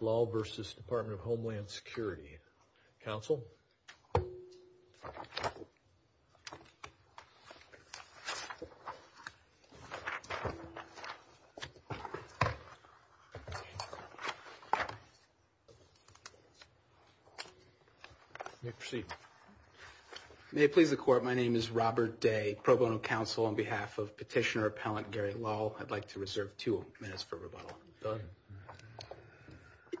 Lall v. Department of Homeland Security. Counsel, you may proceed. May it please the Court, my name is Robert Day, Pro Bono Counsel. On behalf of Petitioner Appellant Gary Lall, I'd like to reserve two minutes for rebuttal.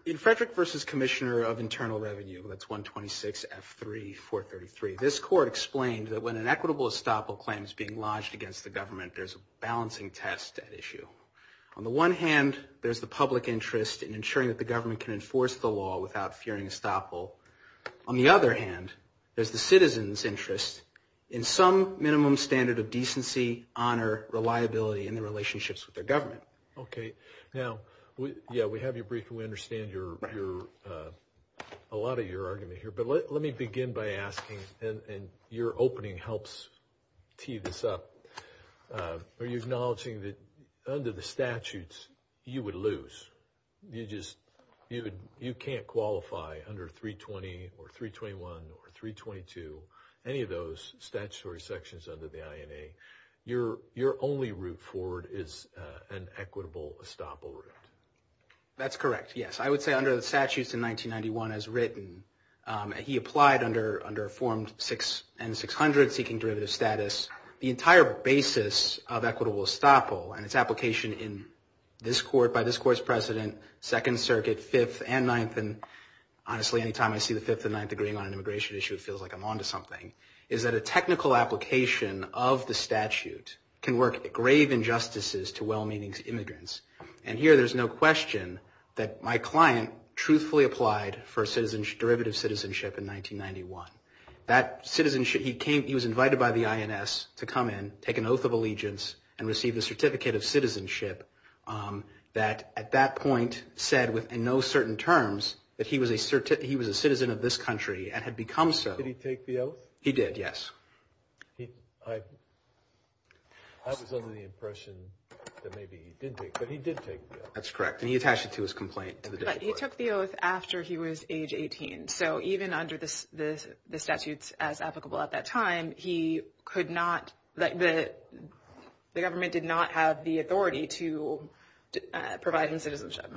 In Frederick v. Commissioner of Internal Revenue, that's 126F3433, this Court explained that when an equitable estoppel claim is being lodged against the government, there's a balancing test at issue. On the one hand, there's the public interest in ensuring that the government can enforce the law without fearing estoppel. On the other hand, there's the citizens' interest in some minimum standard of decency, honor, reliability, and the relationships with their government. Okay. Now, yeah, we have your brief and we understand a lot of your argument here. But let me begin by asking, and your opening helps tee this up, are you acknowledging that under the statutes, you would lose? You just, you can't qualify under 320 or 321 or 322, any of those statutory sections under the INA. Your only route forward is an equitable estoppel route. That's correct, yes. I would say under the statutes in 1991 as written, he applied under Form 6 and 600, seeking derivative status. The entire basis of equitable estoppel and its application in this Court, by this Court's president, Second Circuit, Fifth and Ninth, and honestly, any time I see the Fifth and Ninth agreeing on an immigration issue, it feels like I'm on to something, is that a technical application of the statute can work grave injustices to well-meaning immigrants. And here, there's no question that my client truthfully applied for derivative citizenship in 1991. That citizenship, he came, he was invited by the INS to come in, take an oath of allegiance, and receive a certificate of citizenship that at that point said with no certain terms that he was a citizen of this country and had become so. Did he take the oath? He did, yes. I was under the impression that maybe he did take, but he did take the oath. That's correct, and he attached it to his complaint. But he took the oath after he was age 18, so even under the statutes as applicable at that time, he could not, the government did not have the authority to provide him citizenship.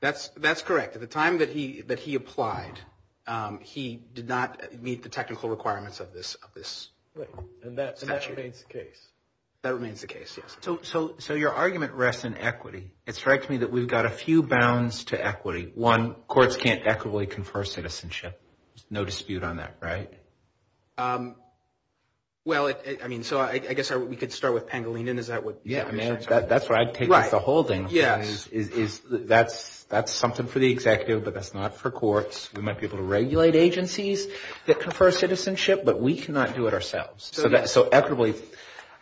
That's correct. At the time that he applied, he did not meet the technical requirements of this statute. And that remains the case. That remains the case, yes. So your argument rests in equity. It strikes me that we've got a few bounds to equity. One, courts can't equitably confer citizenship. There's no dispute on that, right? Well, I mean, so I guess we could start with Pangolinan, is that what you're saying? Yeah, I mean, that's where I take the whole thing. That's something for the executive, but that's not for courts. We might be able to regulate agencies that confer citizenship, but we cannot do it ourselves. So equitably,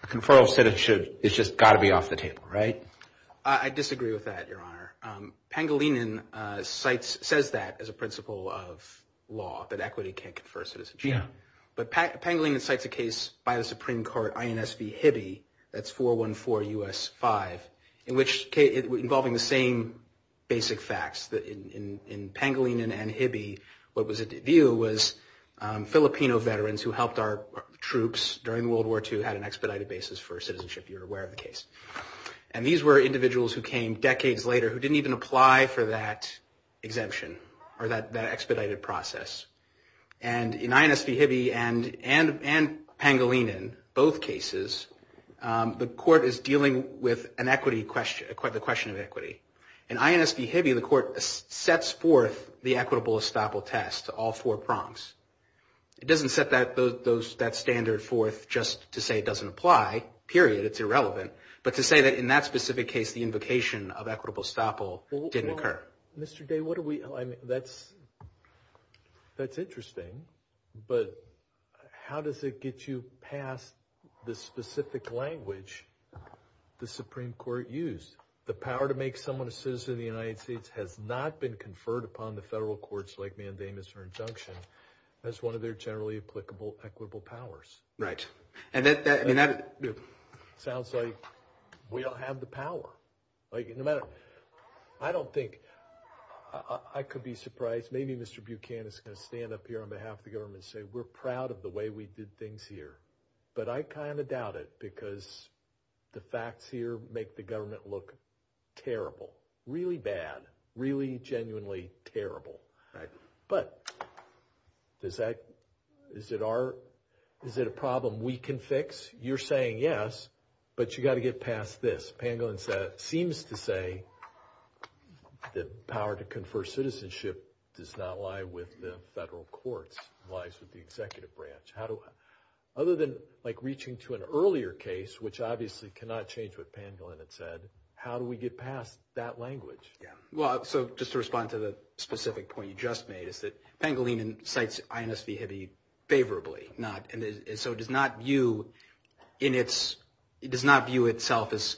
a conferral of citizenship has just got to be off the table, right? I disagree with that, Your Honor. Pangolinan says that as a principle of law, that equity can't confer citizenship. But Pangolinan cites a case by the Supreme Court, INS v. Hibbe, that's 414 U.S. 5, involving the same basic facts. In Pangolinan and Hibbe, what was at the view was Filipino veterans who helped our troops during World War II had an expedited basis for citizenship. You're aware of the case. And these were individuals who came decades later who didn't even apply for that exemption or that expedited process. And in INS v. Hibbe and Pangolinan, both cases, the court is dealing with the question of equity. In INS v. Hibbe, the court sets forth the equitable estoppel test, all four prompts. It doesn't set that standard forth just to say it doesn't apply, period, it's irrelevant, but to say that in that specific case, the invocation of equitable estoppel didn't occur. Mr. Day, that's interesting. But how does it get you past the specific language the Supreme Court used? The power to make someone a citizen of the United States has not been conferred upon the federal courts like mandamus or injunction as one of their generally applicable equitable powers. Right. Sounds like we don't have the power. I don't think, I could be surprised, maybe Mr. Buchanan is going to stand up here on behalf of the government and say we're proud of the way we did things here. But I kind of doubt it because the facts here make the government look terrible, really bad, really genuinely terrible. But is it a problem we can fix? You're saying yes, but you've got to get past this. Pangolin seems to say the power to confer citizenship does not lie with the federal courts, it lies with the executive branch. Other than reaching to an earlier case, which obviously cannot change what Pangolin had said, how do we get past that language? Just to respond to the specific point you just made, is that Pangolin cites INS v. Hibby favorably, so it does not view itself as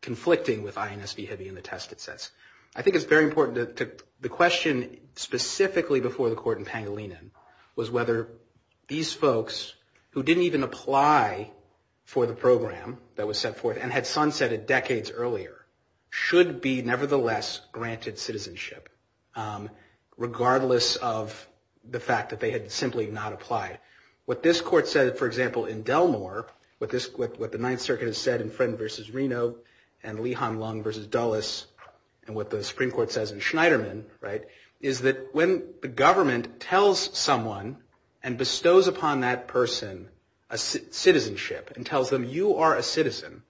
conflicting with INS v. Hibby in the test it sets. I think it's very important, the question specifically before the court in Pangolin was whether these folks who didn't even apply for the program that was set forth and had sunsetted decades earlier should be nevertheless granted citizenship, regardless of the fact that they had simply not applied. What this court said, for example, in Delmore, what the Ninth Circuit has said in Friend v. Reno and Leehan Lung v. Dulles and what the Supreme Court says in Schneiderman, is that when the government tells someone and bestows upon that person citizenship and tells them you are a citizen,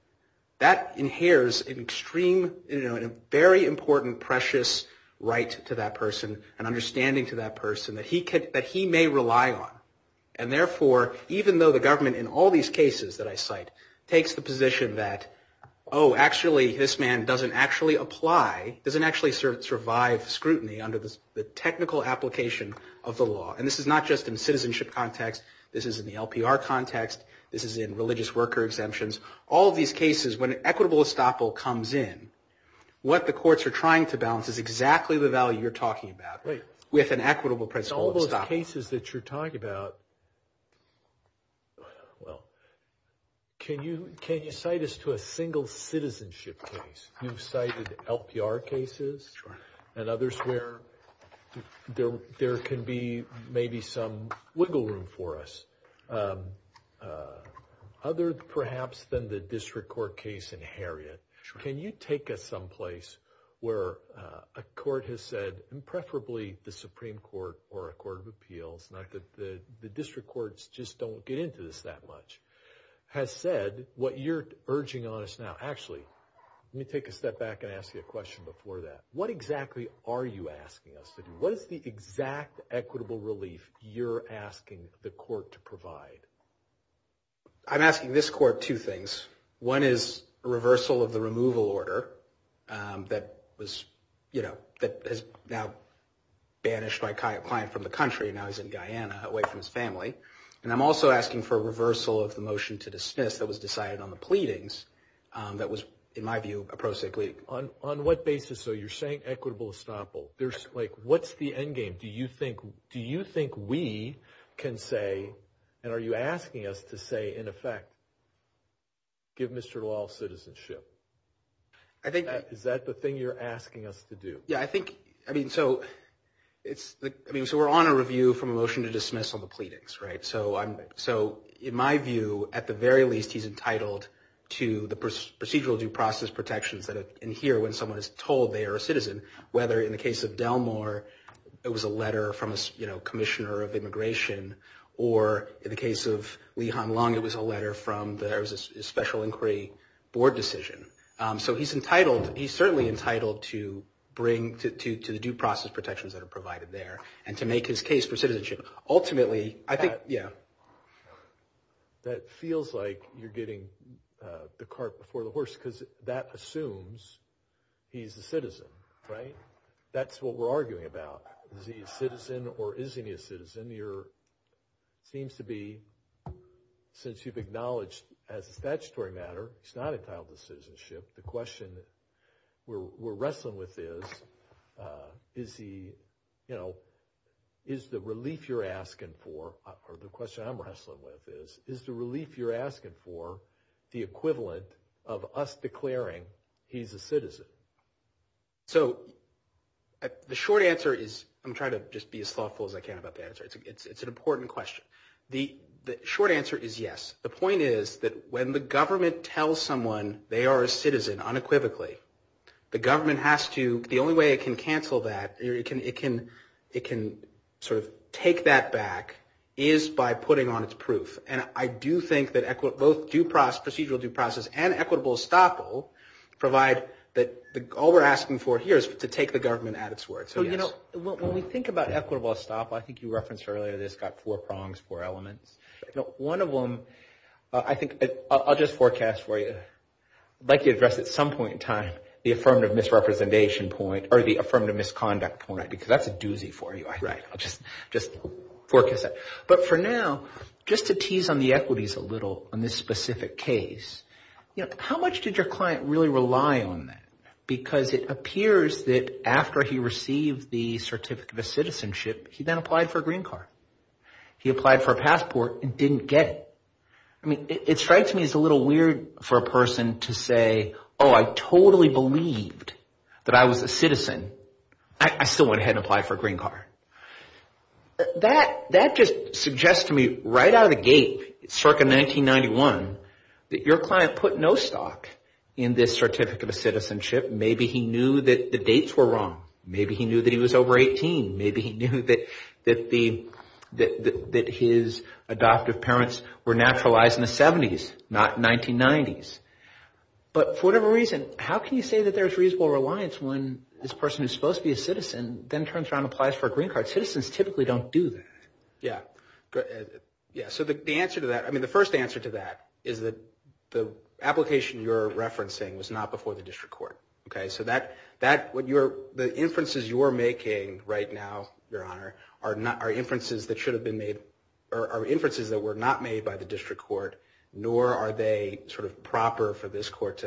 that inheres a very important precious right to that person and understanding to that person that he may rely on. And therefore, even though the government in all these cases that I cite takes the position that, oh, actually this man doesn't actually apply, doesn't actually survive scrutiny under the technical application of the law. And this is not just in citizenship context, this is in the LPR context, this is in religious worker exemptions. All of these cases, when an equitable estoppel comes in, what the courts are trying to balance is exactly the value you're talking about with an equitable principle of estoppel. All those cases that you're talking about, well, can you cite us to a single citizenship case? You've cited LPR cases and others where there can be maybe some wiggle room for us. Other perhaps than the district court case in Harriet, can you take us someplace where a court has said, and preferably the Supreme Court or a court of appeals, not that the district courts just don't get into this that much, has said what you're urging on us now. Actually, let me take a step back and ask you a question before that. What exactly are you asking us to do? What is the exact equitable relief you're asking the court to provide? I'm asking this court two things. One is a reversal of the removal order that has now banished my client from the country, now he's in Guyana away from his family. And I'm also asking for a reversal of the motion to dismiss that was decided on the pleadings that was, in my view, a pro se plea. On what basis are you saying equitable estoppel? Like what's the end game? Do you think we can say, and are you asking us to say, in effect, give Mr. Lowell citizenship? Is that the thing you're asking us to do? Yeah, I think, I mean, so we're on a review from a motion to dismiss on the pleadings, right? So in my view, at the very least, he's entitled to the procedural due process protections that adhere when someone is told they are a citizen, whether in the case of Delmore, it was a letter from a commissioner of immigration, or in the case of Lee Han Long, it was a letter from the Special Inquiry Board decision. So he's entitled, he's certainly entitled to bring, to the due process protections that are provided there and to make his case for citizenship. Ultimately, I think, yeah. That feels like you're getting the cart before the horse because that assumes he's a citizen, right? That's what we're arguing about. Is he a citizen or isn't he a citizen? It seems to be, since you've acknowledged as a statutory matter, he's not entitled to citizenship. The question we're wrestling with is, is he, you know, is the relief you're asking for or the question I'm wrestling with is, is the relief you're asking for the equivalent of us declaring he's a citizen? So the short answer is, I'm trying to just be as thoughtful as I can about the answer. It's an important question. The short answer is yes. The point is that when the government tells someone they are a citizen unequivocally, the government has to, the only way it can cancel that, it can sort of take that back, is by putting on its proof. And I do think that both procedural due process and equitable estoppel provide that, all we're asking for here is to take the government at its word. So yes. When we think about equitable estoppel, I think you referenced earlier this got four prongs, four elements. One of them, I think, I'll just forecast for you. I'd like to address at some point in time the affirmative misrepresentation point or the affirmative misconduct point, because that's a doozy for you, I think. I'll just forecast that. But for now, just to tease on the equities a little on this specific case, how much did your client really rely on that? Because it appears that after he received the certificate of citizenship, he then applied for a green card. He applied for a passport and didn't get it. It strikes me as a little weird for a person to say, oh, I totally believed that I was a citizen. I still went ahead and applied for a green card. That just suggests to me right out of the gate, circa 1991, that your client put no stock in this certificate of citizenship. Maybe he knew that the dates were wrong. Maybe he knew that he was over 18. Maybe he knew that his adoptive parents were naturalized in the 70s, not 1990s. But for whatever reason, how can you say that there's reasonable reliance when this person who's supposed to be a citizen then turns around and applies for a green card? Citizens typically don't do that. Yeah. So the answer to that, I mean, the first answer to that is that the application you're referencing was not before the district court. Okay. So the inferences you're making right now, Your Honor, are inferences that should have been made or are inferences that were not made by the district court, nor are they sort of proper for this court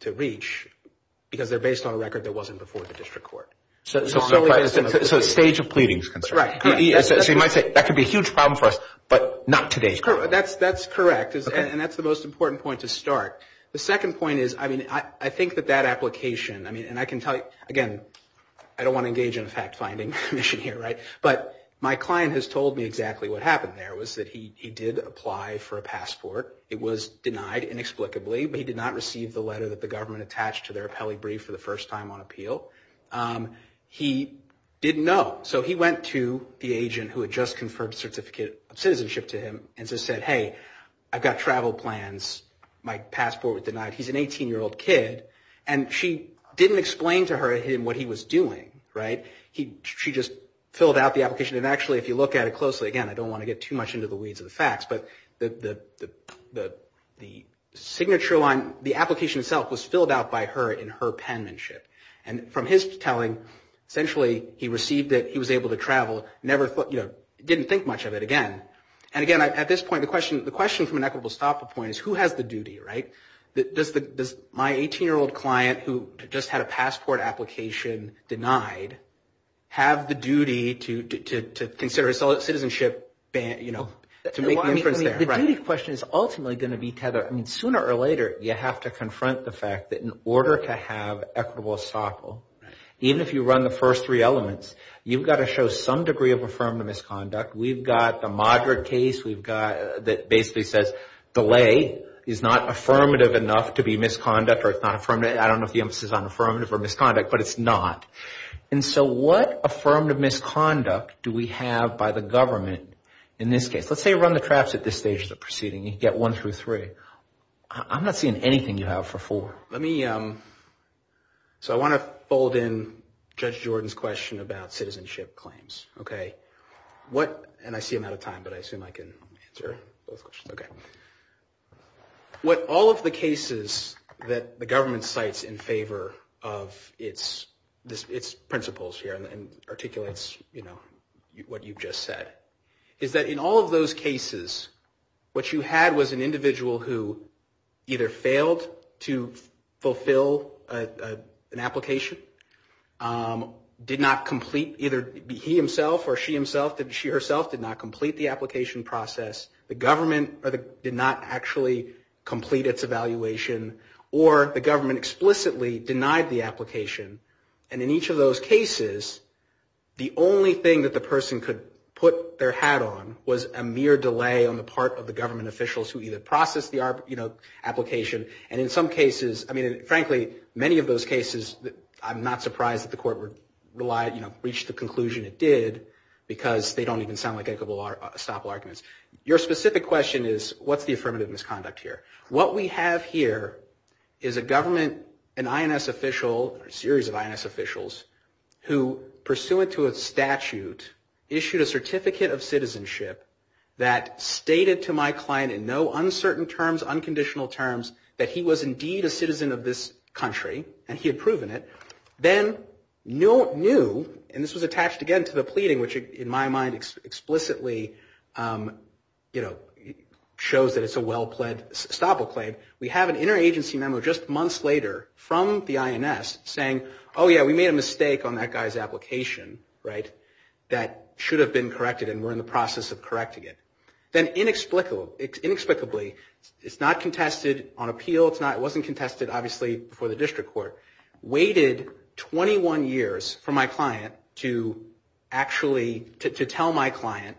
to reach because they're based on a record that wasn't before the district court. So stage of pleading is concerned. Right. So you might say, that could be a huge problem for us, but not today. That's correct. And that's the most important point to start. The second point is, I mean, I think that that application, I mean, and I can tell you, again, I don't want to engage in a fact-finding mission here, right? But my client has told me exactly what happened there, was that he did apply for a passport. It was denied inexplicably, but he did not receive the letter that the government attached to their appellee brief for the first time on appeal. He didn't know. So he went to the agent who had just conferred a certificate of citizenship to him and just said, hey, I've got travel plans. My passport was denied. He's an 18-year-old kid. And she didn't explain to him what he was doing, right? She just filled out the application. And actually, if you look at it closely, again, I don't want to get too much into the weeds of the facts, but the signature line, the application itself was filled out by her in her penmanship. And from his telling, essentially, he received it. He was able to travel. Didn't think much of it again. And, again, at this point, the question from an equitable estoppel point is who has the duty, right? Does my 18-year-old client who just had a passport application denied have the duty to consider citizenship, you know, to make the inference there? The duty question is ultimately going to be tethered. I mean, sooner or later, you have to confront the fact that in order to have equitable estoppel, even if you run the first three elements, you've got to show some degree of affirmative misconduct. We've got a moderate case that basically says delay is not affirmative enough to be misconduct or it's not affirmative. I don't know if the emphasis is on affirmative or misconduct, but it's not. And so what affirmative misconduct do we have by the government in this case? Let's say you run the traps at this stage of the proceeding. You get one through three. I'm not seeing anything you have for four. So I want to fold in Judge Jordan's question about citizenship claims, okay? And I see I'm out of time, but I assume I can answer both questions. Okay. What all of the cases that the government cites in favor of its principles here and articulates, you know, what you've just said, is that in all of those cases, what you had was an individual who either failed to fulfill an application, did not complete either he himself or she herself did not complete the application process, the government did not actually complete its evaluation, or the government explicitly denied the application. And in each of those cases, the only thing that the person could put their hat on was a mere delay on the part of the government officials who either processed the, you know, application. And in some cases, I mean, frankly, many of those cases, I'm not surprised that the court would rely, you know, reach the conclusion it did because they don't even sound like equitable estoppel arguments. Your specific question is what's the affirmative misconduct here? What we have here is a government, an INS official, a series of INS officials, who pursuant to a statute issued a certificate of citizenship that stated to my client in no uncertain terms, unconditional terms, that he was indeed a citizen of this country and he had proven it, then knew, and this was attached again to the pleading, which in my mind explicitly, you know, shows that it's a well-pled estoppel claim. We have an interagency memo just months later from the INS saying, oh, yeah, we made a mistake on that guy's application, right, that should have been corrected and we're in the process of correcting it. Then inexplicably, it's not contested on appeal, it wasn't contested, obviously, before the district court, waited 21 years for my client to actually, to tell my client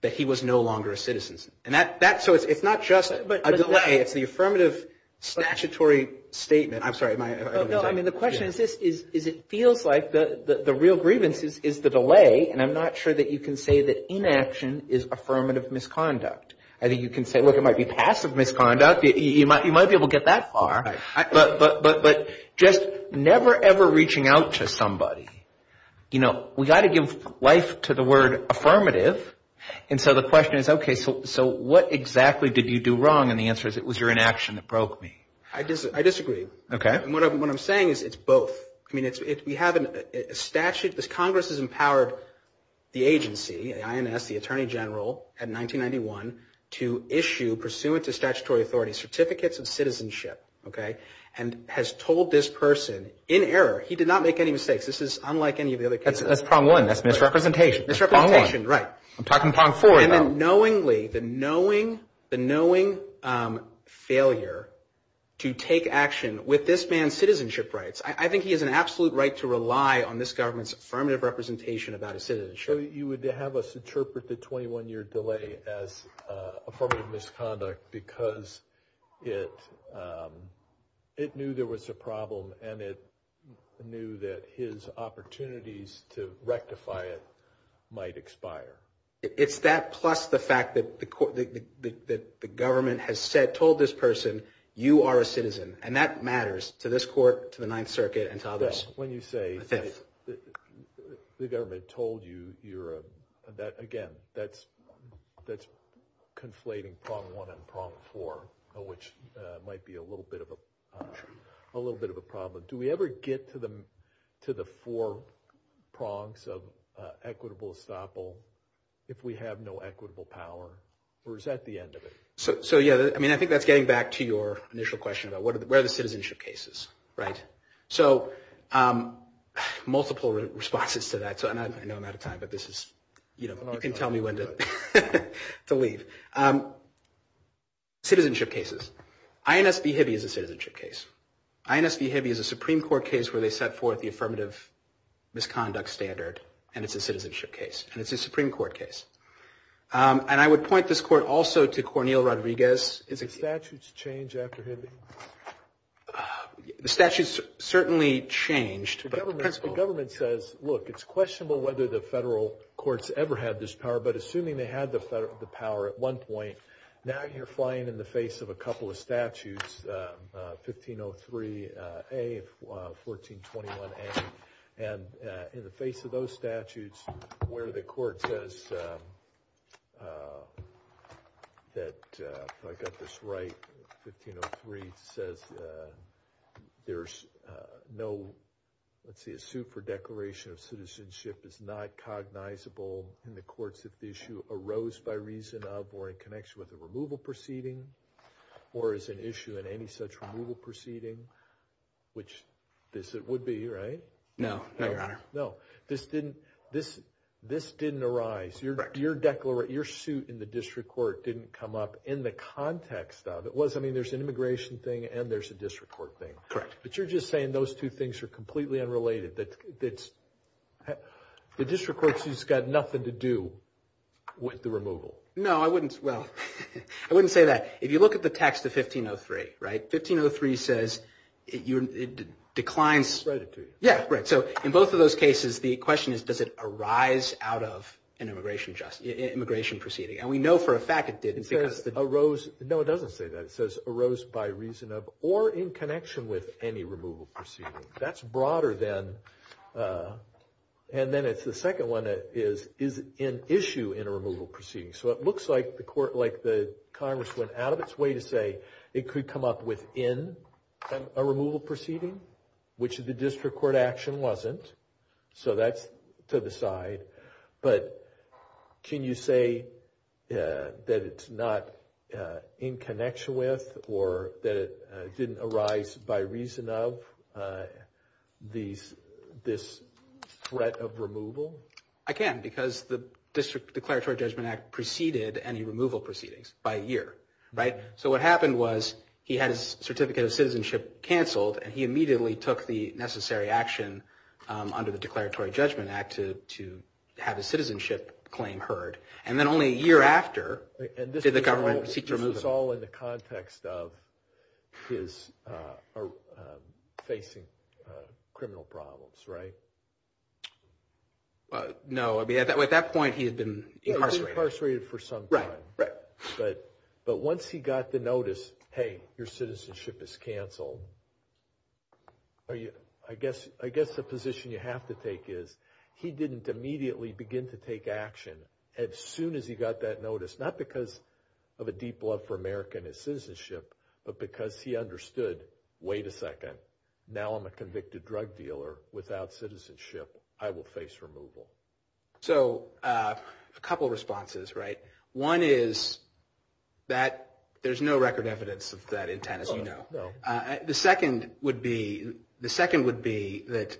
that he was no longer a citizen. And that, so it's not just a delay, it's the affirmative statutory statement. I'm sorry. No, I mean, the question is this, is it feels like the real grievance is the delay, and I'm not sure that you can say that inaction is affirmative misconduct. I think you can say, look, it might be passive misconduct, you might be able to get that far. Right. But just never, ever reaching out to somebody. You know, we've got to give life to the word affirmative, and so the question is, okay, so what exactly did you do wrong, and the answer is it was your inaction that broke me. I disagree. Okay. And what I'm saying is it's both. I mean, we have a statute, this Congress has empowered the agency, the INS, the Attorney General, at 1991 to issue, pursuant to statutory authority, certificates of citizenship, okay, and has told this person, in error, he did not make any mistakes. This is unlike any of the other cases. That's problem one, that's misrepresentation. Misrepresentation, right. I'm talking problem four. And then knowingly, the knowing failure to take action with this man's citizenship rights. I think he has an absolute right to rely on this government's affirmative representation about his citizenship. So you would have us interpret the 21-year delay as affirmative misconduct because it knew there was a problem, and it knew that his opportunities to rectify it might expire. It's that plus the fact that the government has said, told this person, you are a citizen, and that matters to this court, to the Ninth Circuit, and to others. When you say the government told you that, again, that's conflating prong one and prong four, which might be a little bit of a problem. Do we ever get to the four prongs of equitable estoppel if we have no equitable power, or is that the end of it? So, yeah, I mean, I think that's getting back to your initial question about where the citizenship case is, right. So multiple responses to that, and I know I'm out of time, but this is, you know, you can tell me when to leave. Citizenship cases. INS v. Hibby is a citizenship case. INS v. Hibby is a Supreme Court case where they set forth the affirmative misconduct standard, and it's a citizenship case, and it's a Supreme Court case. And I would point this court also to Cornel Rodriguez. Do the statutes change after Hibby? The statutes certainly changed. The government says, look, it's questionable whether the federal courts ever had this power, but assuming they had the power at one point, now you're flying in the face of a couple of statutes, 1503A, 1421A, and in the face of those statutes where the court says that, if I've got this right, 1503 says there's no, let's see, a suit for declaration of citizenship is not cognizable in the courts if the issue arose by reason of or in connection with a removal proceeding or is an issue in any such removal proceeding, which this would be, right? No, no, Your Honor. No. This didn't arise. Correct. Your suit in the district court didn't come up in the context of. It was, I mean, there's an immigration thing and there's a district court thing. Correct. But you're just saying those two things are completely unrelated. The district court has got nothing to do with the removal. No, I wouldn't, well, I wouldn't say that. If you look at the text of 1503, right, 1503 says it declines. I'll write it to you. Yeah, right. So in both of those cases, the question is, does it arise out of an immigration proceeding? And we know for a fact it did. No, it doesn't say that. It says arose by reason of or in connection with any removal proceeding. That's broader than, and then it's the second one that is, is an issue in a removal proceeding. So it looks like the court, like the Congress went out of its way to say it could come up within a removal proceeding, which the district court action wasn't. So that's to the side. But can you say that it's not in connection with or that it didn't arise by reason of this threat of removal? I can, because the District Declaratory Judgment Act preceded any removal proceedings by a year, right? So what happened was he had his certificate of citizenship canceled, and he immediately took the necessary action under the Declaratory Judgment Act to have his citizenship claim heard. And then only a year after did the government seek to remove him. And this was all in the context of his facing criminal problems, right? No, I mean, at that point he had been incarcerated. He had been incarcerated for some time. Right, right. But once he got the notice, hey, your citizenship is canceled, I guess the position you have to take is, he didn't immediately begin to take action. As soon as he got that notice, not because of a deep love for America and his citizenship, but because he understood, wait a second, now I'm a convicted drug dealer. Without citizenship, I will face removal. So a couple of responses, right? One is that there's no record evidence of that intent, as you know. The second would be that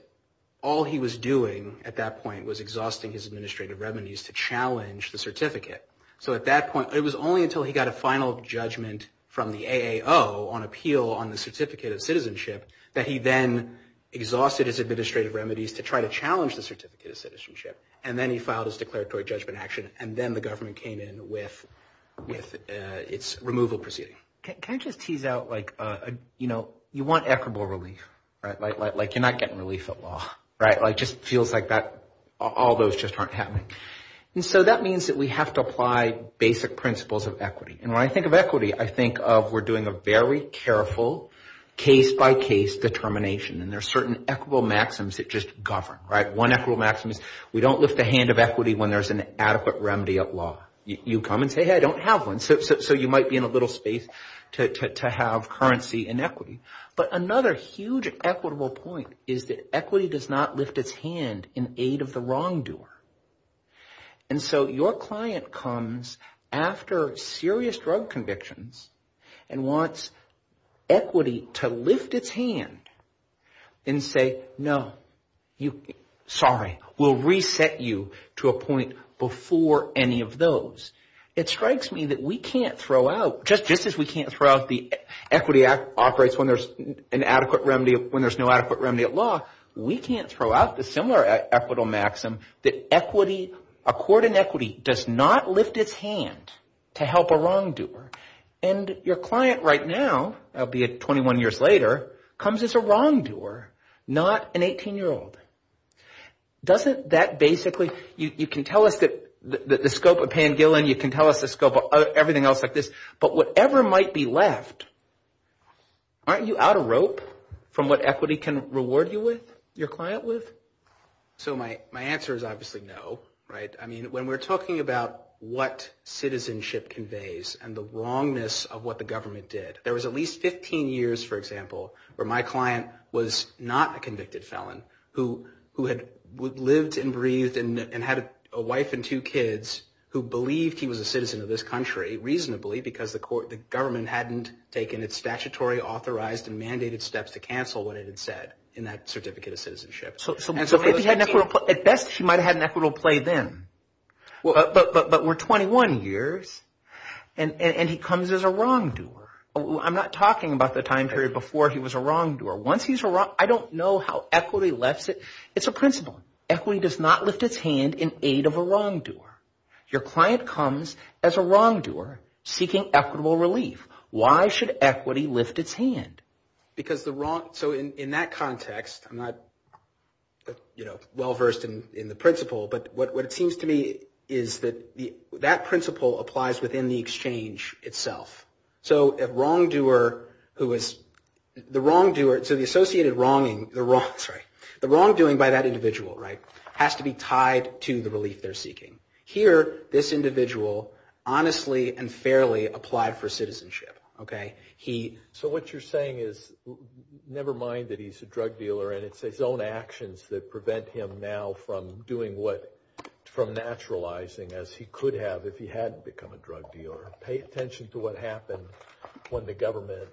all he was doing at that point was exhausting his administrative remedies to challenge the certificate. So at that point, it was only until he got a final judgment from the AAO on appeal on the certificate of citizenship that he then exhausted his administrative remedies to try to challenge the certificate of citizenship. And then he filed his declaratory judgment action. And then the government came in with its removal proceeding. Can I just tease out, like, you know, you want equitable relief, right? Like you're not getting relief at law, right? Like it just feels like all those just aren't happening. And so that means that we have to apply basic principles of equity. And when I think of equity, I think of we're doing a very careful case-by-case determination. And there are certain equitable maxims that just govern, right? One equitable maxim is we don't lift a hand of equity when there's an adequate remedy at law. You come and say, hey, I don't have one. So you might be in a little space to have currency and equity. But another huge equitable point is that equity does not lift its hand in aid of the wrongdoer. And so your client comes after serious drug convictions and wants equity to lift its hand and say, no, sorry. We'll reset you to a point before any of those. It strikes me that we can't throw out, just as we can't throw out the equity operates when there's an adequate remedy, when there's no adequate remedy at law, we can't throw out the similar equitable maxim that equity, a court in equity does not lift its hand to help a wrongdoer. And your client right now, albeit 21 years later, comes as a wrongdoer, not an 18-year-old. Doesn't that basically, you can tell us the scope of Pan-Gillen. You can tell us the scope of everything else like this. But whatever might be left, aren't you out of rope from what equity can reward you with, your client with? So my answer is obviously no. I mean, when we're talking about what citizenship conveys and the wrongness of what the government did, there was at least 15 years, for example, where my client was not a convicted felon who had lived and breathed and had a wife and two kids who believed he was a citizen of this country reasonably because the government hadn't taken its statutory authorized and mandated steps to cancel what it had said in that certificate of citizenship. So at best, he might have had an equitable play then. But we're 21 years, and he comes as a wrongdoer. I'm not talking about the time period before he was a wrongdoer. Once he's a wrongdoer, I don't know how equity lifts it. It's a principle. Equity does not lift its hand in aid of a wrongdoer. Your client comes as a wrongdoer seeking equitable relief. Why should equity lift its hand? Because the wrong – so in that context, I'm not, you know, well-versed in the principle, but what it seems to me is that that principle applies within the exchange itself. So a wrongdoer who is – the wrongdoer – so the associated wronging – sorry – the wrongdoing by that individual, right, has to be tied to the relief they're seeking. Here, this individual honestly and fairly applied for citizenship, okay? He – So what you're saying is never mind that he's a drug dealer, and it's his own actions that prevent him now from doing what – from naturalizing as he could have if he hadn't become a drug dealer. Pay attention to what happened when the government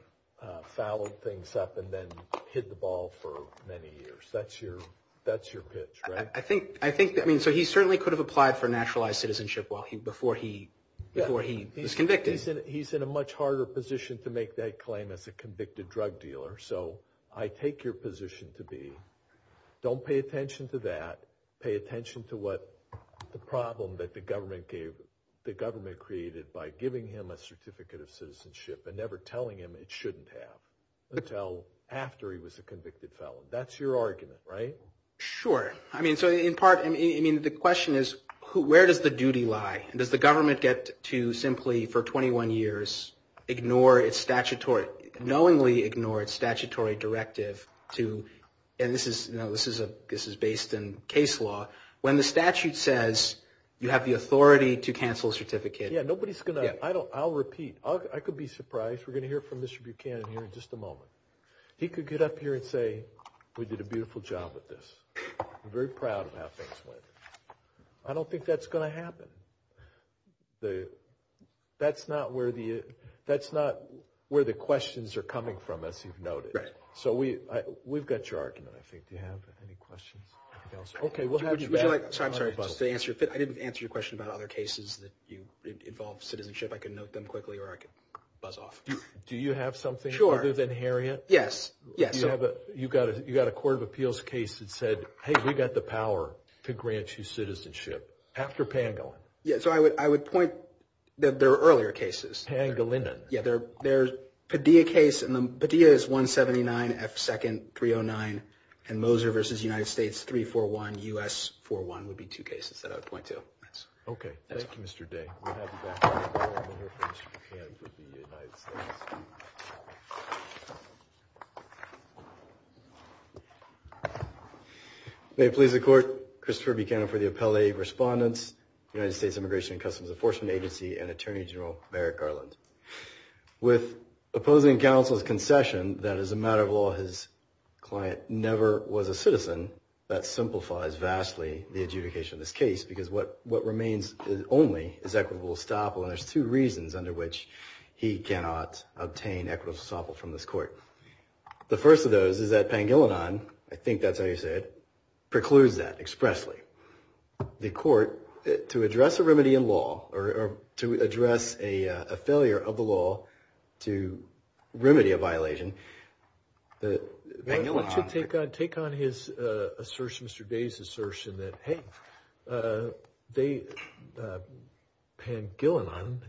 fouled things up and then hid the ball for many years. That's your pitch, right? I think – I mean, so he certainly could have applied for naturalized citizenship before he was convicted. He's in a much harder position to make that claim as a convicted drug dealer. So I take your position to be don't pay attention to that. Pay attention to what the problem that the government gave – the government created by giving him a certificate of citizenship and never telling him it shouldn't have until after he was a convicted felon. That's your argument, right? Sure. I mean, so in part – I mean, the question is where does the duty lie? Does the government get to simply for 21 years ignore its statutory – knowingly ignore its statutory directive to – and this is based in case law – when the statute says you have the authority to cancel a certificate. Yeah, nobody's going to – I'll repeat. I could be surprised. We're going to hear from Mr. Buchanan here in just a moment. He could get up here and say, we did a beautiful job with this. I'm very proud of how things went. I don't think that's going to happen. That's not where the questions are coming from, as you've noted. Right. So we've got your argument, I think. Do you have any questions? Okay, we'll have you back. Would you like – sorry, I'm sorry. Just to answer your – I didn't answer your question about other cases that involved citizenship. I could note them quickly or I could buzz off. Do you have something other than Harriet? Yes, yes. You have a – you've got a court of appeals case that said, hey, we've got the power to grant you citizenship after Pangolin. Yeah, so I would point – there are earlier cases. Pangolinan. Yeah, there's Padilla case, and Padilla is 179 F2nd 309, and Moser v. United States 341 U.S. 41 would be two cases that I would point to. Okay. Thank you, Mr. Day. We'll have you back. We're going to hear from Mr. Buchanan for the United States. May it please the Court. Christopher Buchanan for the appellate respondents, United States Immigration and Customs Enforcement Agency and Attorney General Merrick Garland. With opposing counsel's concession that as a matter of law his client never was a citizen, that simplifies vastly the adjudication of this case because what remains only is equitable estoppel, and there's two reasons under which he cannot obtain equitable estoppel from this court. The first of those is that Pangolinan – I think that's how you say it – precludes that expressly. The court, to address a remedy in law, or to address a failure of the law to remedy a violation, that Pangolinan – Take on his assertion, Mr. Day's assertion that, hey, they, Pangolinan,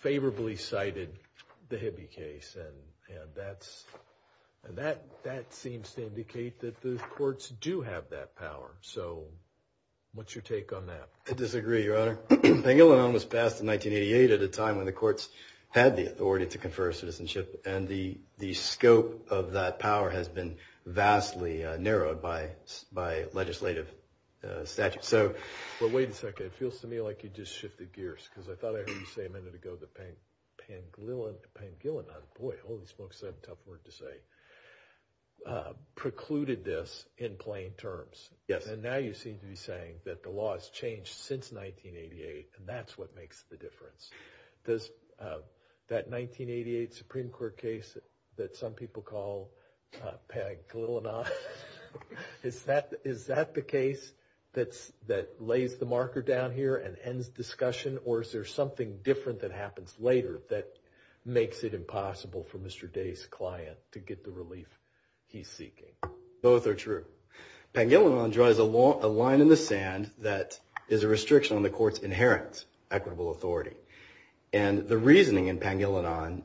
favorably cited the Hibby case, and that seems to indicate that the courts do have that power. So what's your take on that? I disagree, Your Honor. Pangolinan was passed in 1988 at a time when the courts had the authority to confer citizenship, and the scope of that power has been vastly narrowed by legislative statute. So – But wait a second. It feels to me like you just shifted gears because I thought I heard you say a minute ago that Pangolinan – boy, holy smokes, I have a tough word to say – precluded this in plain terms. Yes. And now you seem to be saying that the law has changed since 1988, and that's what makes the difference. Does that 1988 Supreme Court case that some people call Pangolinan, is that the case that lays the marker down here and ends discussion, or is there something different that happens later that makes it impossible for Mr. Day's client to get the relief he's seeking? Both are true. Pangolinan draws a line in the sand that is a restriction on the court's inherent equitable authority. And the reasoning in Pangolinan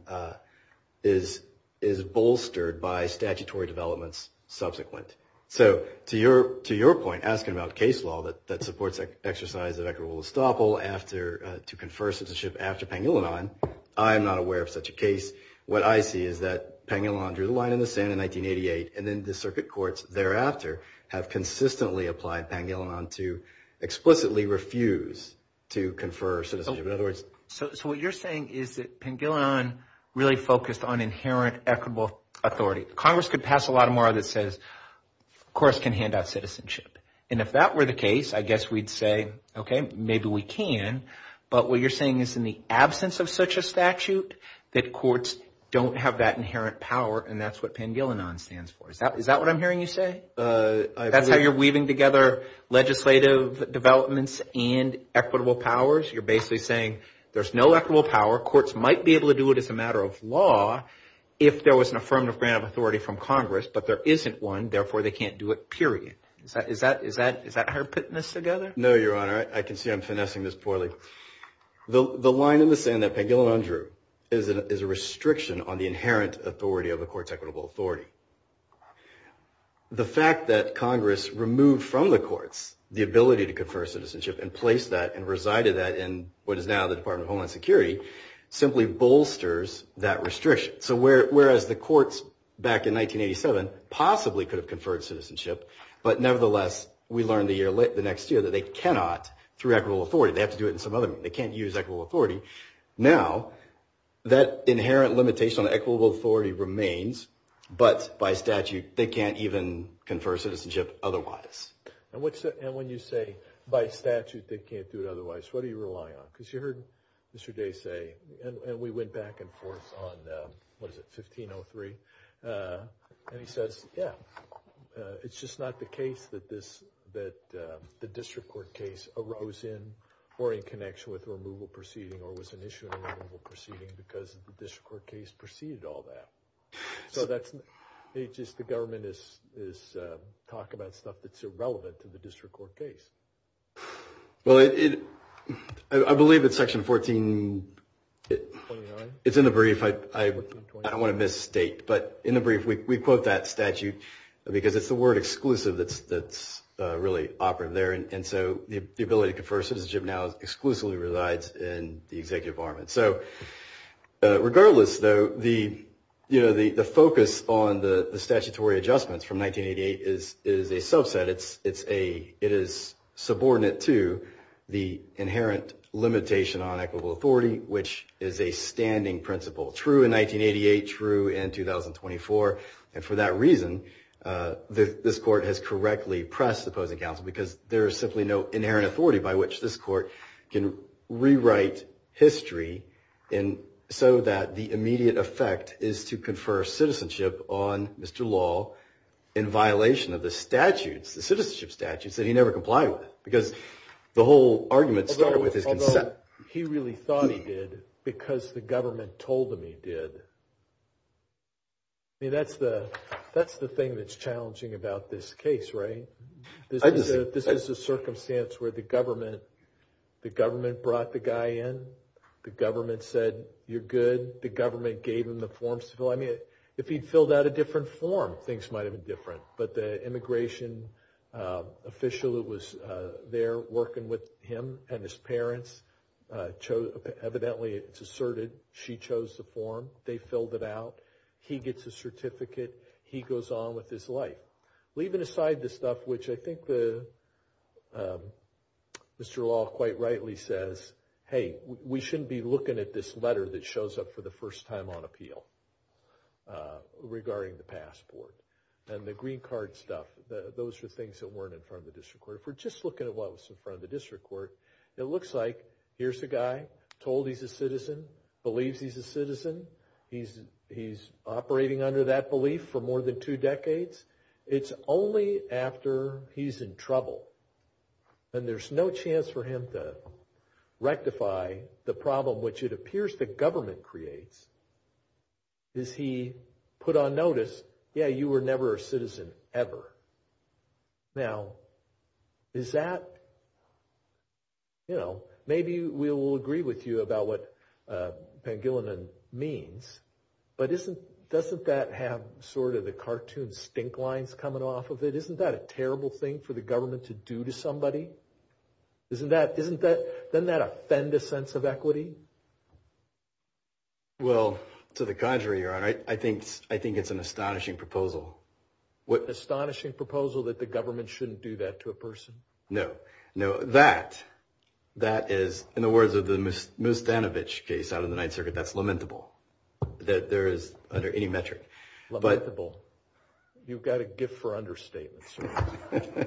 is bolstered by statutory developments subsequent. So to your point, asking about case law that supports exercise of equitable estoppel to confer citizenship after Pangolinan, I am not aware of such a case. What I see is that Pangolinan drew the line in the sand in 1988, and then the circuit courts thereafter have consistently applied Pangolinan to explicitly refuse to confer citizenship. So what you're saying is that Pangolinan really focused on inherent equitable authority. Congress could pass a law tomorrow that says, of course, can hand out citizenship. And if that were the case, I guess we'd say, okay, maybe we can. But what you're saying is in the absence of such a statute that courts don't have that inherent power, and that's what Pangolinan stands for. Is that what I'm hearing you say? That's how you're weaving together legislative developments and equitable powers? You're basically saying there's no equitable power. Courts might be able to do it as a matter of law if there was an affirmative grant of authority from Congress, but there isn't one, therefore they can't do it, period. Is that hard putting this together? No, Your Honor. I can see I'm finessing this poorly. The line in the sand that Pangolinan drew is a restriction on the inherent authority of a court's equitable authority. The fact that Congress removed from the courts the ability to confer citizenship and placed that and resided that in what is now the Department of Homeland Security simply bolsters that restriction. So whereas the courts back in 1987 possibly could have conferred citizenship, but nevertheless we learn the next year that they cannot through equitable authority. They have to do it in some other way. They can't use equitable authority. Now that inherent limitation on equitable authority remains, but by statute they can't even confer citizenship otherwise. And when you say by statute they can't do it otherwise, what are you relying on? Because you heard Mr. Day say, and we went back and forth on, what is it, 1503, and he says, yeah, it's just not the case that the district court case arose in or in connection with a removal proceeding or was an issue in a removal proceeding because the district court case preceded all that. So it's just the government is talking about stuff that's irrelevant to the district court case. Well, I believe it's Section 14. It's in the brief. I don't want to misstate, but in the brief we quote that statute because it's the word exclusive that's really operative there. And so the ability to confer citizenship now exclusively resides in the executive arm. So regardless, though, the focus on the statutory adjustments from 1988 is a subset. It is subordinate to the inherent limitation on equitable authority, which is a standing principle, true in 1988, true in 2024. And for that reason, this court has correctly pressed the opposing counsel because there is simply no inherent authority by which this court can rewrite history so that the immediate effect is to confer citizenship on Mr. Law in violation of the statutes, the citizenship statutes that he never complied with because the whole argument started with his consent. Although he really thought he did because the government told him he did. I mean, that's the thing that's challenging about this case, right? This is a circumstance where the government brought the guy in. The government said, you're good. The government gave him the forms to fill. I mean, if he'd filled out a different form, things might have been different. But the immigration official who was there working with him and his parents evidently, it's asserted, she chose the form. They filled it out. He gets a certificate. He goes on with his life. Leaving aside the stuff which I think Mr. Law quite rightly says, hey, we shouldn't be looking at this letter that shows up for the first time on appeal regarding the passport and the green card stuff. Those are things that weren't in front of the district court. If we're just looking at what was in front of the district court, it looks like here's a guy told he's a citizen, believes he's a citizen. He's operating under that belief for more than two decades. It's only after he's in trouble and there's no chance for him to rectify the problem, which it appears the government creates, is he put on notice, yeah, you were never a citizen ever. Now, is that, you know, maybe we will agree with you about what Pangilinan means, but doesn't that have sort of the cartoon stink lines coming off of it? Isn't that a terrible thing for the government to do to somebody? Doesn't that offend a sense of equity? Well, to the contrary, your honor, I think it's an astonishing proposal. Astonishing proposal that the government shouldn't do that to a person? No. No, that is, in the words of the Moose Danovich case out of the Ninth Circuit, that's lamentable that there is under any metric. Lamentable. You've got a gift for understatements.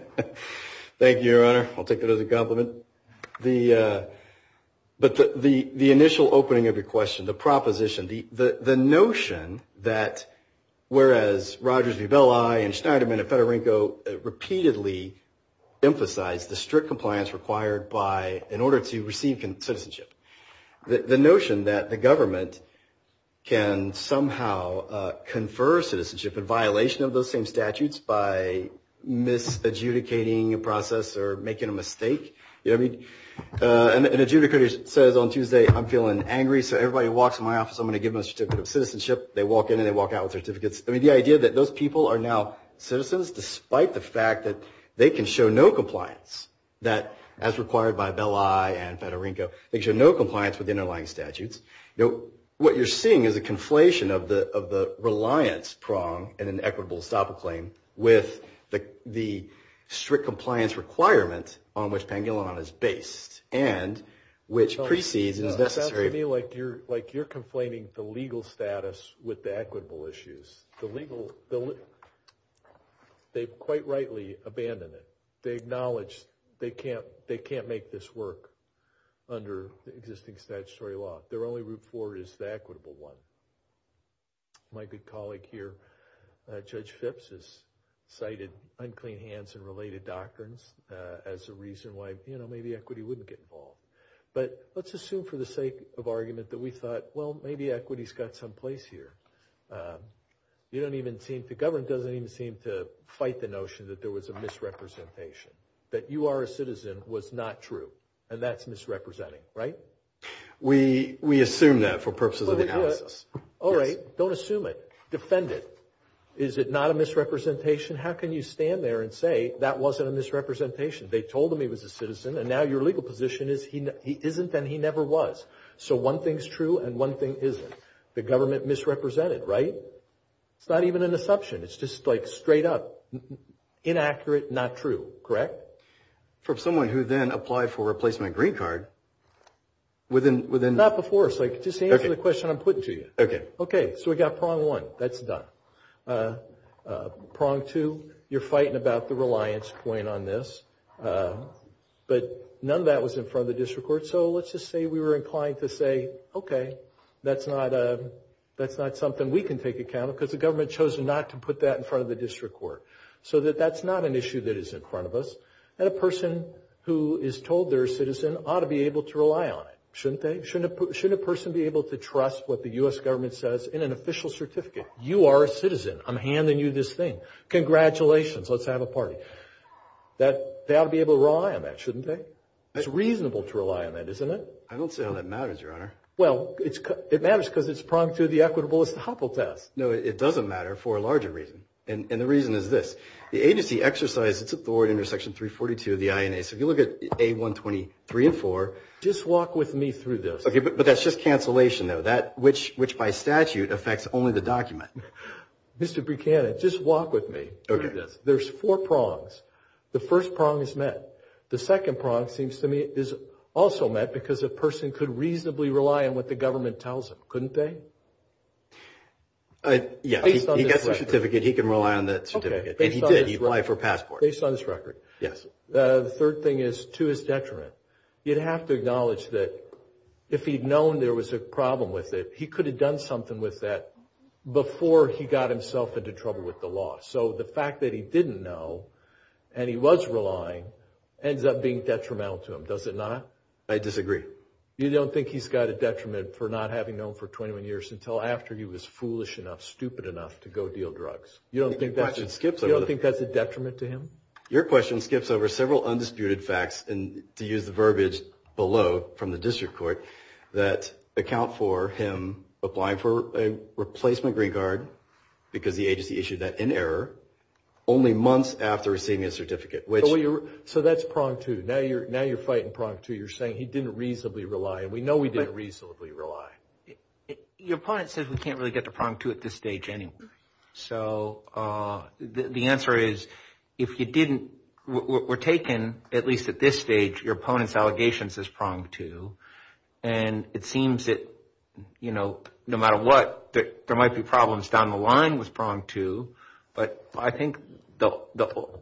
Thank you, your honor. I'll take that as a compliment. But the initial opening of your question, the proposition, the notion that whereas Rogers v. Belli and Schneiderman and Federico repeatedly emphasized the strict compliance required in order to receive citizenship, the notion that the government can somehow confer citizenship in violation of those same statutes by misadjudicating a process or making a mistake. I mean, an adjudicator says on Tuesday, I'm feeling angry, so everybody walks in my office, I'm going to give them a certificate of citizenship. They walk in and they walk out with certificates. I mean, the idea that those people are now citizens despite the fact that they can show no compliance, that as required by Belli and Federico, they can show no compliance with the underlying statutes. What you're seeing is a conflation of the reliance prong and an equitable estoppel claim with the strict compliance requirement on which Pangolinon is based and which precedes and is necessary. It's to me like you're conflating the legal status with the equitable issues. They quite rightly abandon it. They acknowledge they can't make this work under existing statutory law. Their only route forward is the equitable one. My good colleague here, Judge Phipps, has cited unclean hands and related doctrines as a reason why, you know, maybe equity wouldn't get involved. But let's assume for the sake of argument that we thought, well, maybe equity's got some place here. The government doesn't even seem to fight the notion that there was a misrepresentation, that you are a citizen was not true, and that's misrepresenting, right? We assume that for purposes of the analysis. All right. Don't assume it. Defend it. Is it not a misrepresentation? How can you stand there and say that wasn't a misrepresentation? They told him he was a citizen, and now your legal position is he isn't and he never was. So one thing's true and one thing isn't. The government misrepresented, right? It's not even an assumption. It's just like straight up inaccurate, not true, correct? For someone who then applied for a replacement green card, within- Not before. Just answer the question I'm putting to you. Okay. Okay. So we got prong one. That's done. Prong two, you're fighting about the reliance point on this, but none of that was in front of the district court, so let's just say we were inclined to say, okay, that's not something we can take account of because the government chose not to put that in front of the district court, so that that's not an issue that is in front of us, and a person who is told they're a citizen ought to be able to rely on it, shouldn't they? Shouldn't a person be able to trust what the U.S. government says in an official certificate? You are a citizen. I'm handing you this thing. Congratulations. Let's have a party. They ought to be able to rely on that, shouldn't they? It's reasonable to rely on that, isn't it? I don't see how that matters, Your Honor. Well, it matters because it's pronged through the equitable estoppel test. No, it doesn't matter for a larger reason, and the reason is this. The agency exercised its authority under Section 342 of the INA, so if you look at A123 and 4- Just walk with me through this. Okay, but that's just cancellation, though, which by statute affects only the document. Mr. Buchanan, just walk with me through this. There's four prongs. The first prong is met. The second prong seems to me is also met because a person could reasonably rely on what the government tells them, couldn't they? Yeah. Based on this record. If he gets a certificate, he can rely on that certificate, and he did. He relied for a passport. Based on this record. Yes. The third thing is to his detriment. You'd have to acknowledge that if he'd known there was a problem with it, he could have done something with that before he got himself into trouble with the law, so the fact that he didn't know and he was relying ends up being detrimental to him, does it not? I disagree. You don't think he's got a detriment for not having known for 21 years until after he was foolish enough, stupid enough to go deal drugs? You don't think that's a detriment to him? Your question skips over several undisputed facts, and to use the verbiage below from the district court, that account for him applying for a replacement green card because the agency issued that in error, only months after receiving his certificate. So that's prong two. Now you're fighting prong two. You're saying he didn't reasonably rely, and we know we didn't reasonably rely. Your opponent says we can't really get to prong two at this stage anyway. So the answer is if you didn't, we're taking, at least at this stage, your opponent's allegations as prong two, and it seems that, you know, no matter what, there might be problems down the line with prong two, but I think the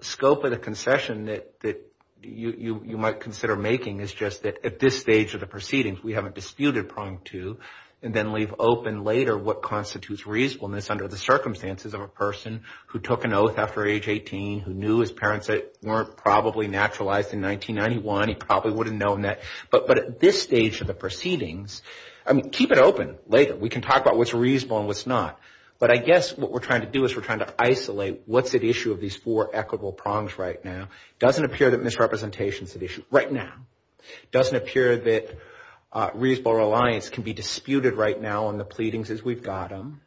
scope of the concession that you might consider making is just that at this stage of the proceedings, we haven't disputed prong two and then leave open later what constitutes reasonableness under the circumstances of a person who took an oath after age 18, who knew his parents weren't probably naturalized in 1991. He probably would have known that. But at this stage of the proceedings, I mean, keep it open later. We can talk about what's reasonable and what's not, but I guess what we're trying to do is we're trying to isolate what's at issue of these four equitable prongs right now. It doesn't appear that misrepresentation is at issue right now. It doesn't appear that reasonable reliance can be disputed right now on the pleadings as we've got them.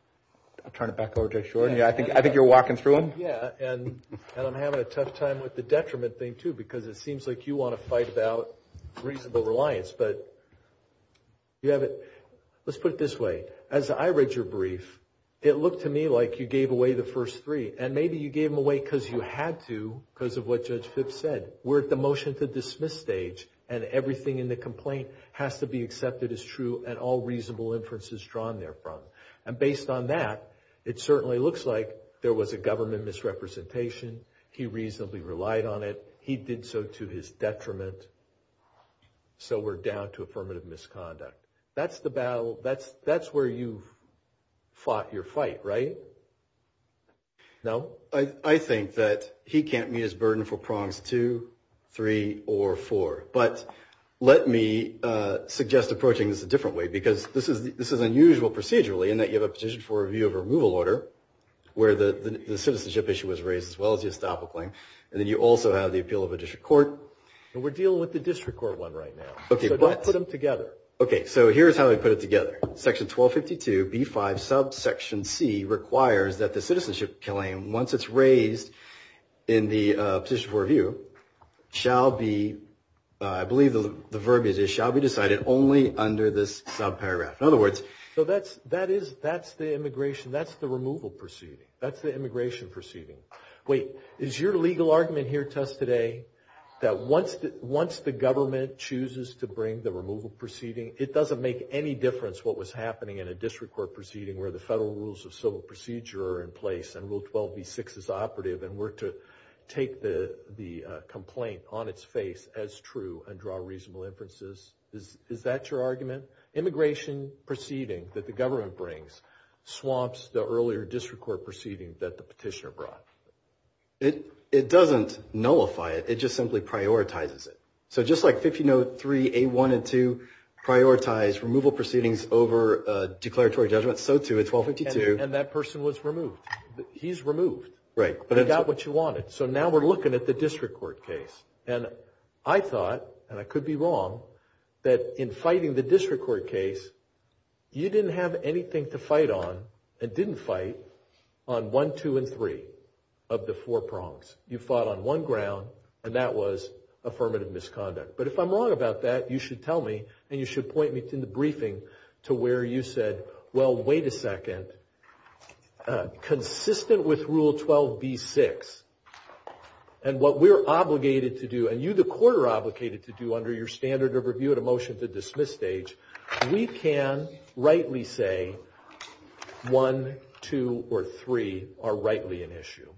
I'll turn it back over to Judge Shorten. Yeah, I think you're walking through them. Yeah, and I'm having a tough time with the detriment thing, too, because it seems like you want to fight about reasonable reliance, but you have it. Let's put it this way. As I read your brief, it looked to me like you gave away the first three, and maybe you gave them away because you had to because of what Judge Phipps said. We're at the motion to dismiss stage, and everything in the complaint has to be accepted as true and all reasonable inferences drawn therefrom. And based on that, it certainly looks like there was a government misrepresentation. He reasonably relied on it. He did so to his detriment. So we're down to affirmative misconduct. That's the battle. That's where you fought your fight, right? No? Well, I think that he can't meet his burden for prongs two, three, or four. But let me suggest approaching this a different way because this is unusual procedurally in that you have a petition for review of removal order where the citizenship issue was raised, as well as the estoppel claim. And then you also have the appeal of a district court. And we're dealing with the district court one right now. Okay, but. So don't put them together. Okay, so here's how we put it together. Section 1252 B-5 subsection C requires that the citizenship claim, once it's raised in the petition for review, shall be, I believe the verb is, shall be decided only under this subparagraph. In other words. So that's the immigration. That's the removal proceeding. That's the immigration proceeding. Wait, is your legal argument here to us today that once the government chooses to bring the removal proceeding, it doesn't make any difference what was happening in a district court proceeding where the federal rules of civil procedure are in place and Rule 12B-6 is operative and we're to take the complaint on its face as true and draw reasonable inferences? Is that your argument? Immigration proceeding that the government brings swamps the earlier district court proceeding that the petitioner brought. It doesn't nullify it. It just simply prioritizes it. So just like 1503A-1 and 2 prioritize removal proceedings over declaratory judgments, so too in 1252. And that person was removed. He's removed. Right. But he got what you wanted. So now we're looking at the district court case. And I thought, and I could be wrong, that in fighting the district court case, you didn't have anything to fight on and didn't fight on 1, 2, and 3 of the four prongs. You fought on 1 ground, and that was affirmative misconduct. But if I'm wrong about that, you should tell me and you should point me to the briefing to where you said, well, wait a second, consistent with Rule 12B-6 and what we're obligated to do and you, the court, are obligated to do under your standard of review at a motion to dismiss stage, we can rightly say 1, 2, or 3 are rightly an issue.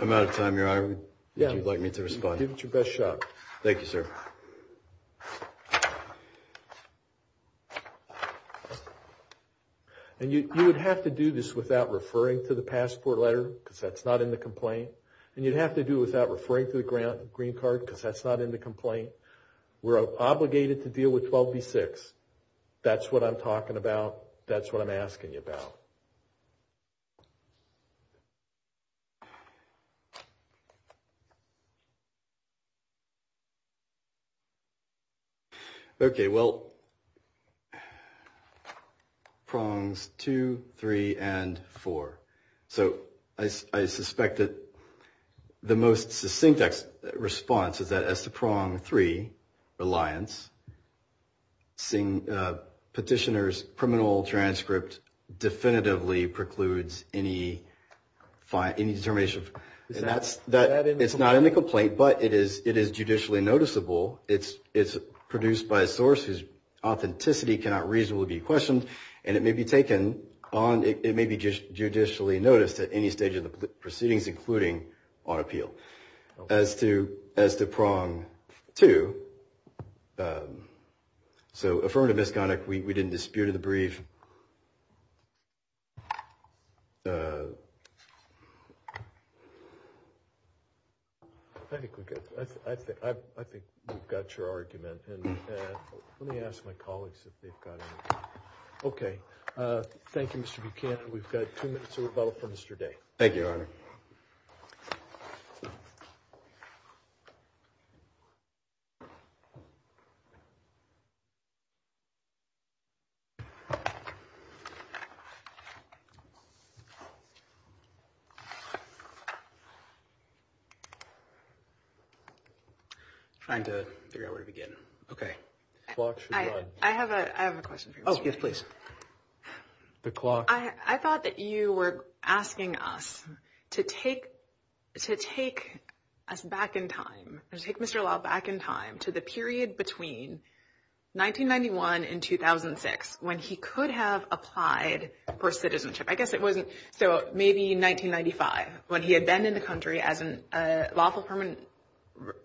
I'm out of time here. I would like me to respond. Give it your best shot. Thank you, sir. And you would have to do this without referring to the passport letter because that's not in the complaint. And you'd have to do it without referring to the green card because that's not in the complaint. We're obligated to deal with 12B-6. That's what I'm talking about. That's what I'm asking you about. Okay, well, prongs 2, 3, and 4. So I suspect that the most succinct response is that as to prong 3, reliance, petitioner's criminal transcript definitively precludes any determination. It's not in the complaint, but it is judicially noticeable. It's produced by a source whose authenticity cannot reasonably be questioned, and it may be taken on, it may be judicially noticed at any stage of the proceedings, including on appeal. As to prong 2, so affirmative misconduct, we didn't dispute in the brief. I think we've got your argument. Let me ask my colleagues if they've got anything. Okay. Thank you, Mr. Buchanan. We've got two minutes to rebuttal for Mr. Day. Thank you, Your Honor. Thank you. Trying to figure out where to begin. Okay. I have a question for you. Oh, yes, please. The clock. I thought that you were asking us to take us back in time, to take Mr. Lau back in time to the period between 1991 and 2006 when he could have applied for citizenship. I guess it wasn't, so maybe 1995 when he had been in the country as a lawful permanent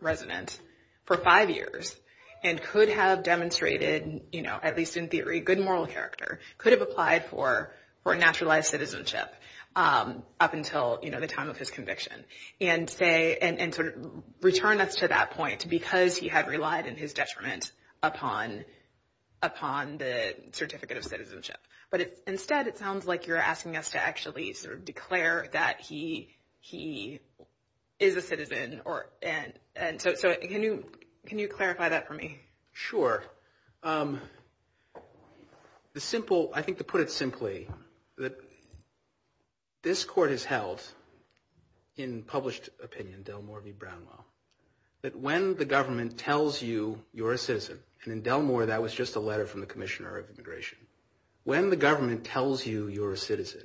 resident for five years and could have demonstrated, at least in theory, good moral character, could have applied for naturalized citizenship up until the time of his conviction and return us to that point because he had relied in his detriment upon the certificate of citizenship. But instead, it sounds like you're asking us to actually sort of declare that he is a citizen. So can you clarify that for me? Sure. I think to put it simply, this court has held in published opinion, Delmore v. Brownwell, that when the government tells you you're a citizen, and in Delmore that was just a letter from the Commissioner of Immigration, when the government tells you you're a citizen,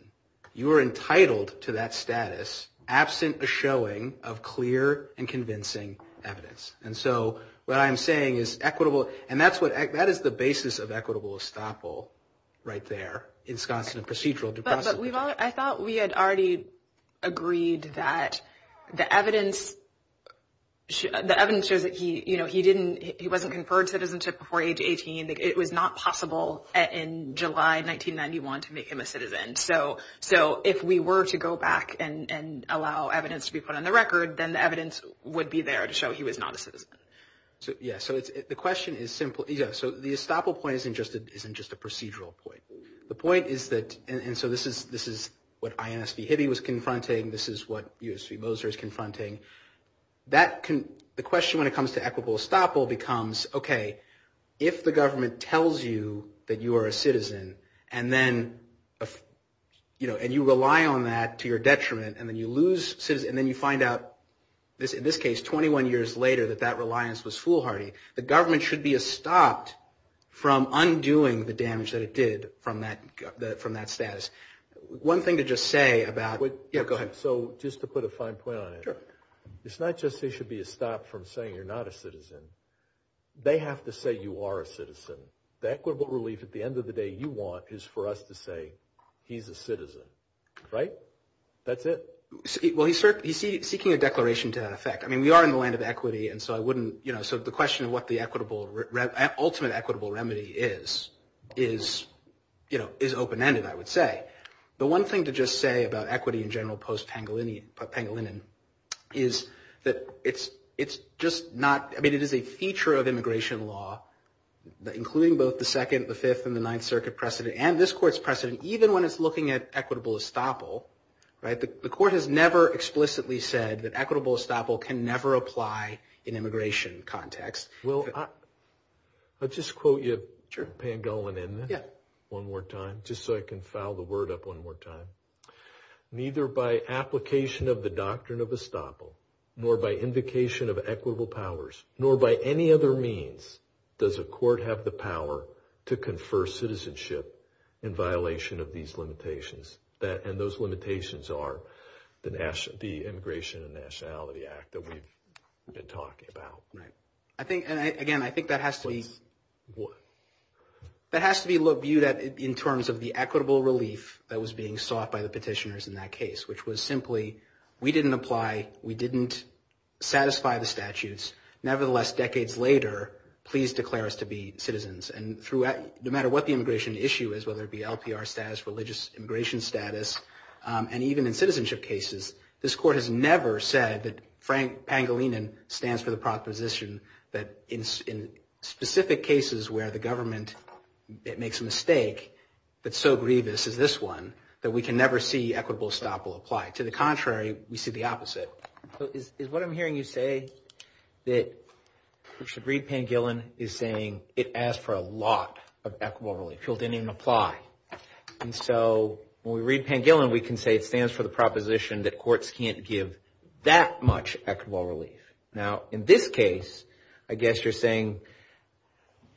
you are entitled to that status absent a showing of clear and convincing evidence. And so what I'm saying is equitable, and that is the basis of equitable estoppel right there, in Sconstantin procedural deposition. But I thought we had already agreed that the evidence shows that he wasn't conferred citizenship before age 18. It was not possible in July 1991 to make him a citizen. So if we were to go back and allow evidence to be put on the record, then the evidence would be there to show he was not a citizen. Yeah. So the question is simple. So the estoppel point isn't just a procedural point. The point is that, and so this is what INSV Hibby was confronting. This is what USV Moser is confronting. The question when it comes to equitable estoppel becomes, okay, if the government tells you that you are a citizen and you rely on that to your detriment and then you lose citizenship and then you find out, in this case, 21 years later that that reliance was foolhardy, the government should be stopped from undoing the damage that it did from that status. One thing to just say about – yeah, go ahead. So just to put a fine point on it, it's not just there should be a stop from saying you're not a citizen. They have to say you are a citizen. The equitable relief at the end of the day you want is for us to say he's a citizen. Right? That's it. Well, he's seeking a declaration to that effect. I mean, we are in the land of equity, and so I wouldn't – so the question of what the ultimate equitable remedy is is open-ended, I would say. The one thing to just say about equity in general post-Pangolinan is that it's just not – I mean, it is a feature of immigration law, including both the Second, the Fifth, and the Ninth Circuit precedent and this Court's precedent. Even when it's looking at equitable estoppel, right, the Court has never explicitly said that equitable estoppel can never apply in immigration context. Well, I'll just quote you Pangolinan one more time just so I can foul the word up one more time. Neither by application of the doctrine of estoppel nor by indication of equitable powers nor by any other means does a court have the power to confer citizenship in violation of these limitations. And those limitations are the Immigration and Nationality Act that we've been talking about. Right. I think – and again, I think that has to be viewed in terms of the equitable relief that was being sought by the petitioners in that case, which was simply we didn't apply, we didn't satisfy the statutes. Nevertheless, decades later, please declare us to be citizens. And no matter what the immigration issue is, whether it be LPR status, religious immigration status, and even in citizenship cases, this Court has never said that Pangolinan stands for the proposition that in specific cases where the government makes a mistake that's so grievous as this one, that we can never see equitable estoppel apply. To the contrary, we see the opposite. Is what I'm hearing you say that we should read Pangolinan is saying it asked for a lot of equitable relief. And so when we read Pangolin, we can say it stands for the proposition that courts can't give that much equitable relief. Now, in this case, I guess you're saying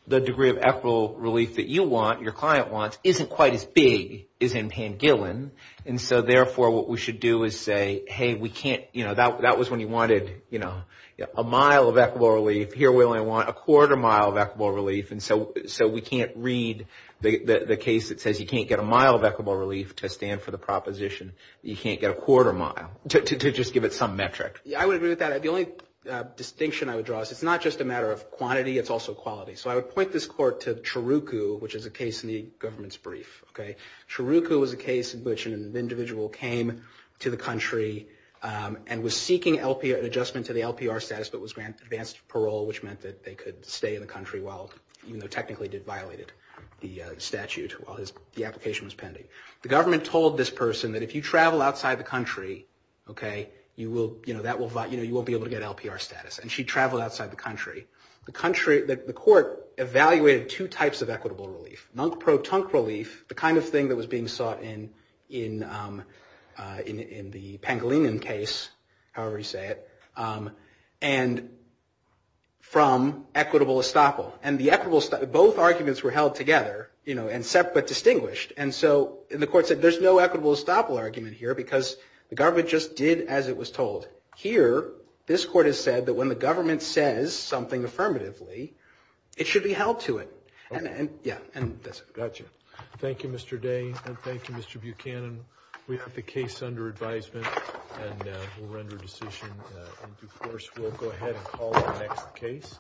the degree of equitable relief that you want, your client wants, isn't quite as big as in Pangolin. And so therefore, what we should do is say, hey, we can't – that was when you wanted a mile of equitable relief. Here we only want a quarter mile of equitable relief. And so we can't read the case that says you can't get a mile of equitable relief to stand for the proposition that you can't get a quarter mile, to just give it some metric. I would agree with that. The only distinction I would draw is it's not just a matter of quantity. It's also quality. So I would point this Court to Chiruku, which is a case in the government's brief. Chiruku was a case in which an individual came to the country and was seeking an adjustment to the LPR status but was granted advanced parole, which meant that they could stay in the country while – even though technically it violated the statute while the application was pending. The government told this person that if you travel outside the country, okay, you will – that will – you won't be able to get LPR status. And she traveled outside the country. The country – the Court evaluated two types of equitable relief. The kind of thing that was being sought in the Pangolinan case, however you say it, and from equitable estoppel. And the equitable – both arguments were held together, you know, except but distinguished. And so the Court said there's no equitable estoppel argument here because the government just did as it was told. Here, this Court has said that when the government says something affirmatively, it should be held to it. And, yeah, and that's it. Gotcha. Thank you, Mr. Day, and thank you, Mr. Buchanan. We have the case under advisement, and we'll render a decision in due course. We'll go ahead and call the next case.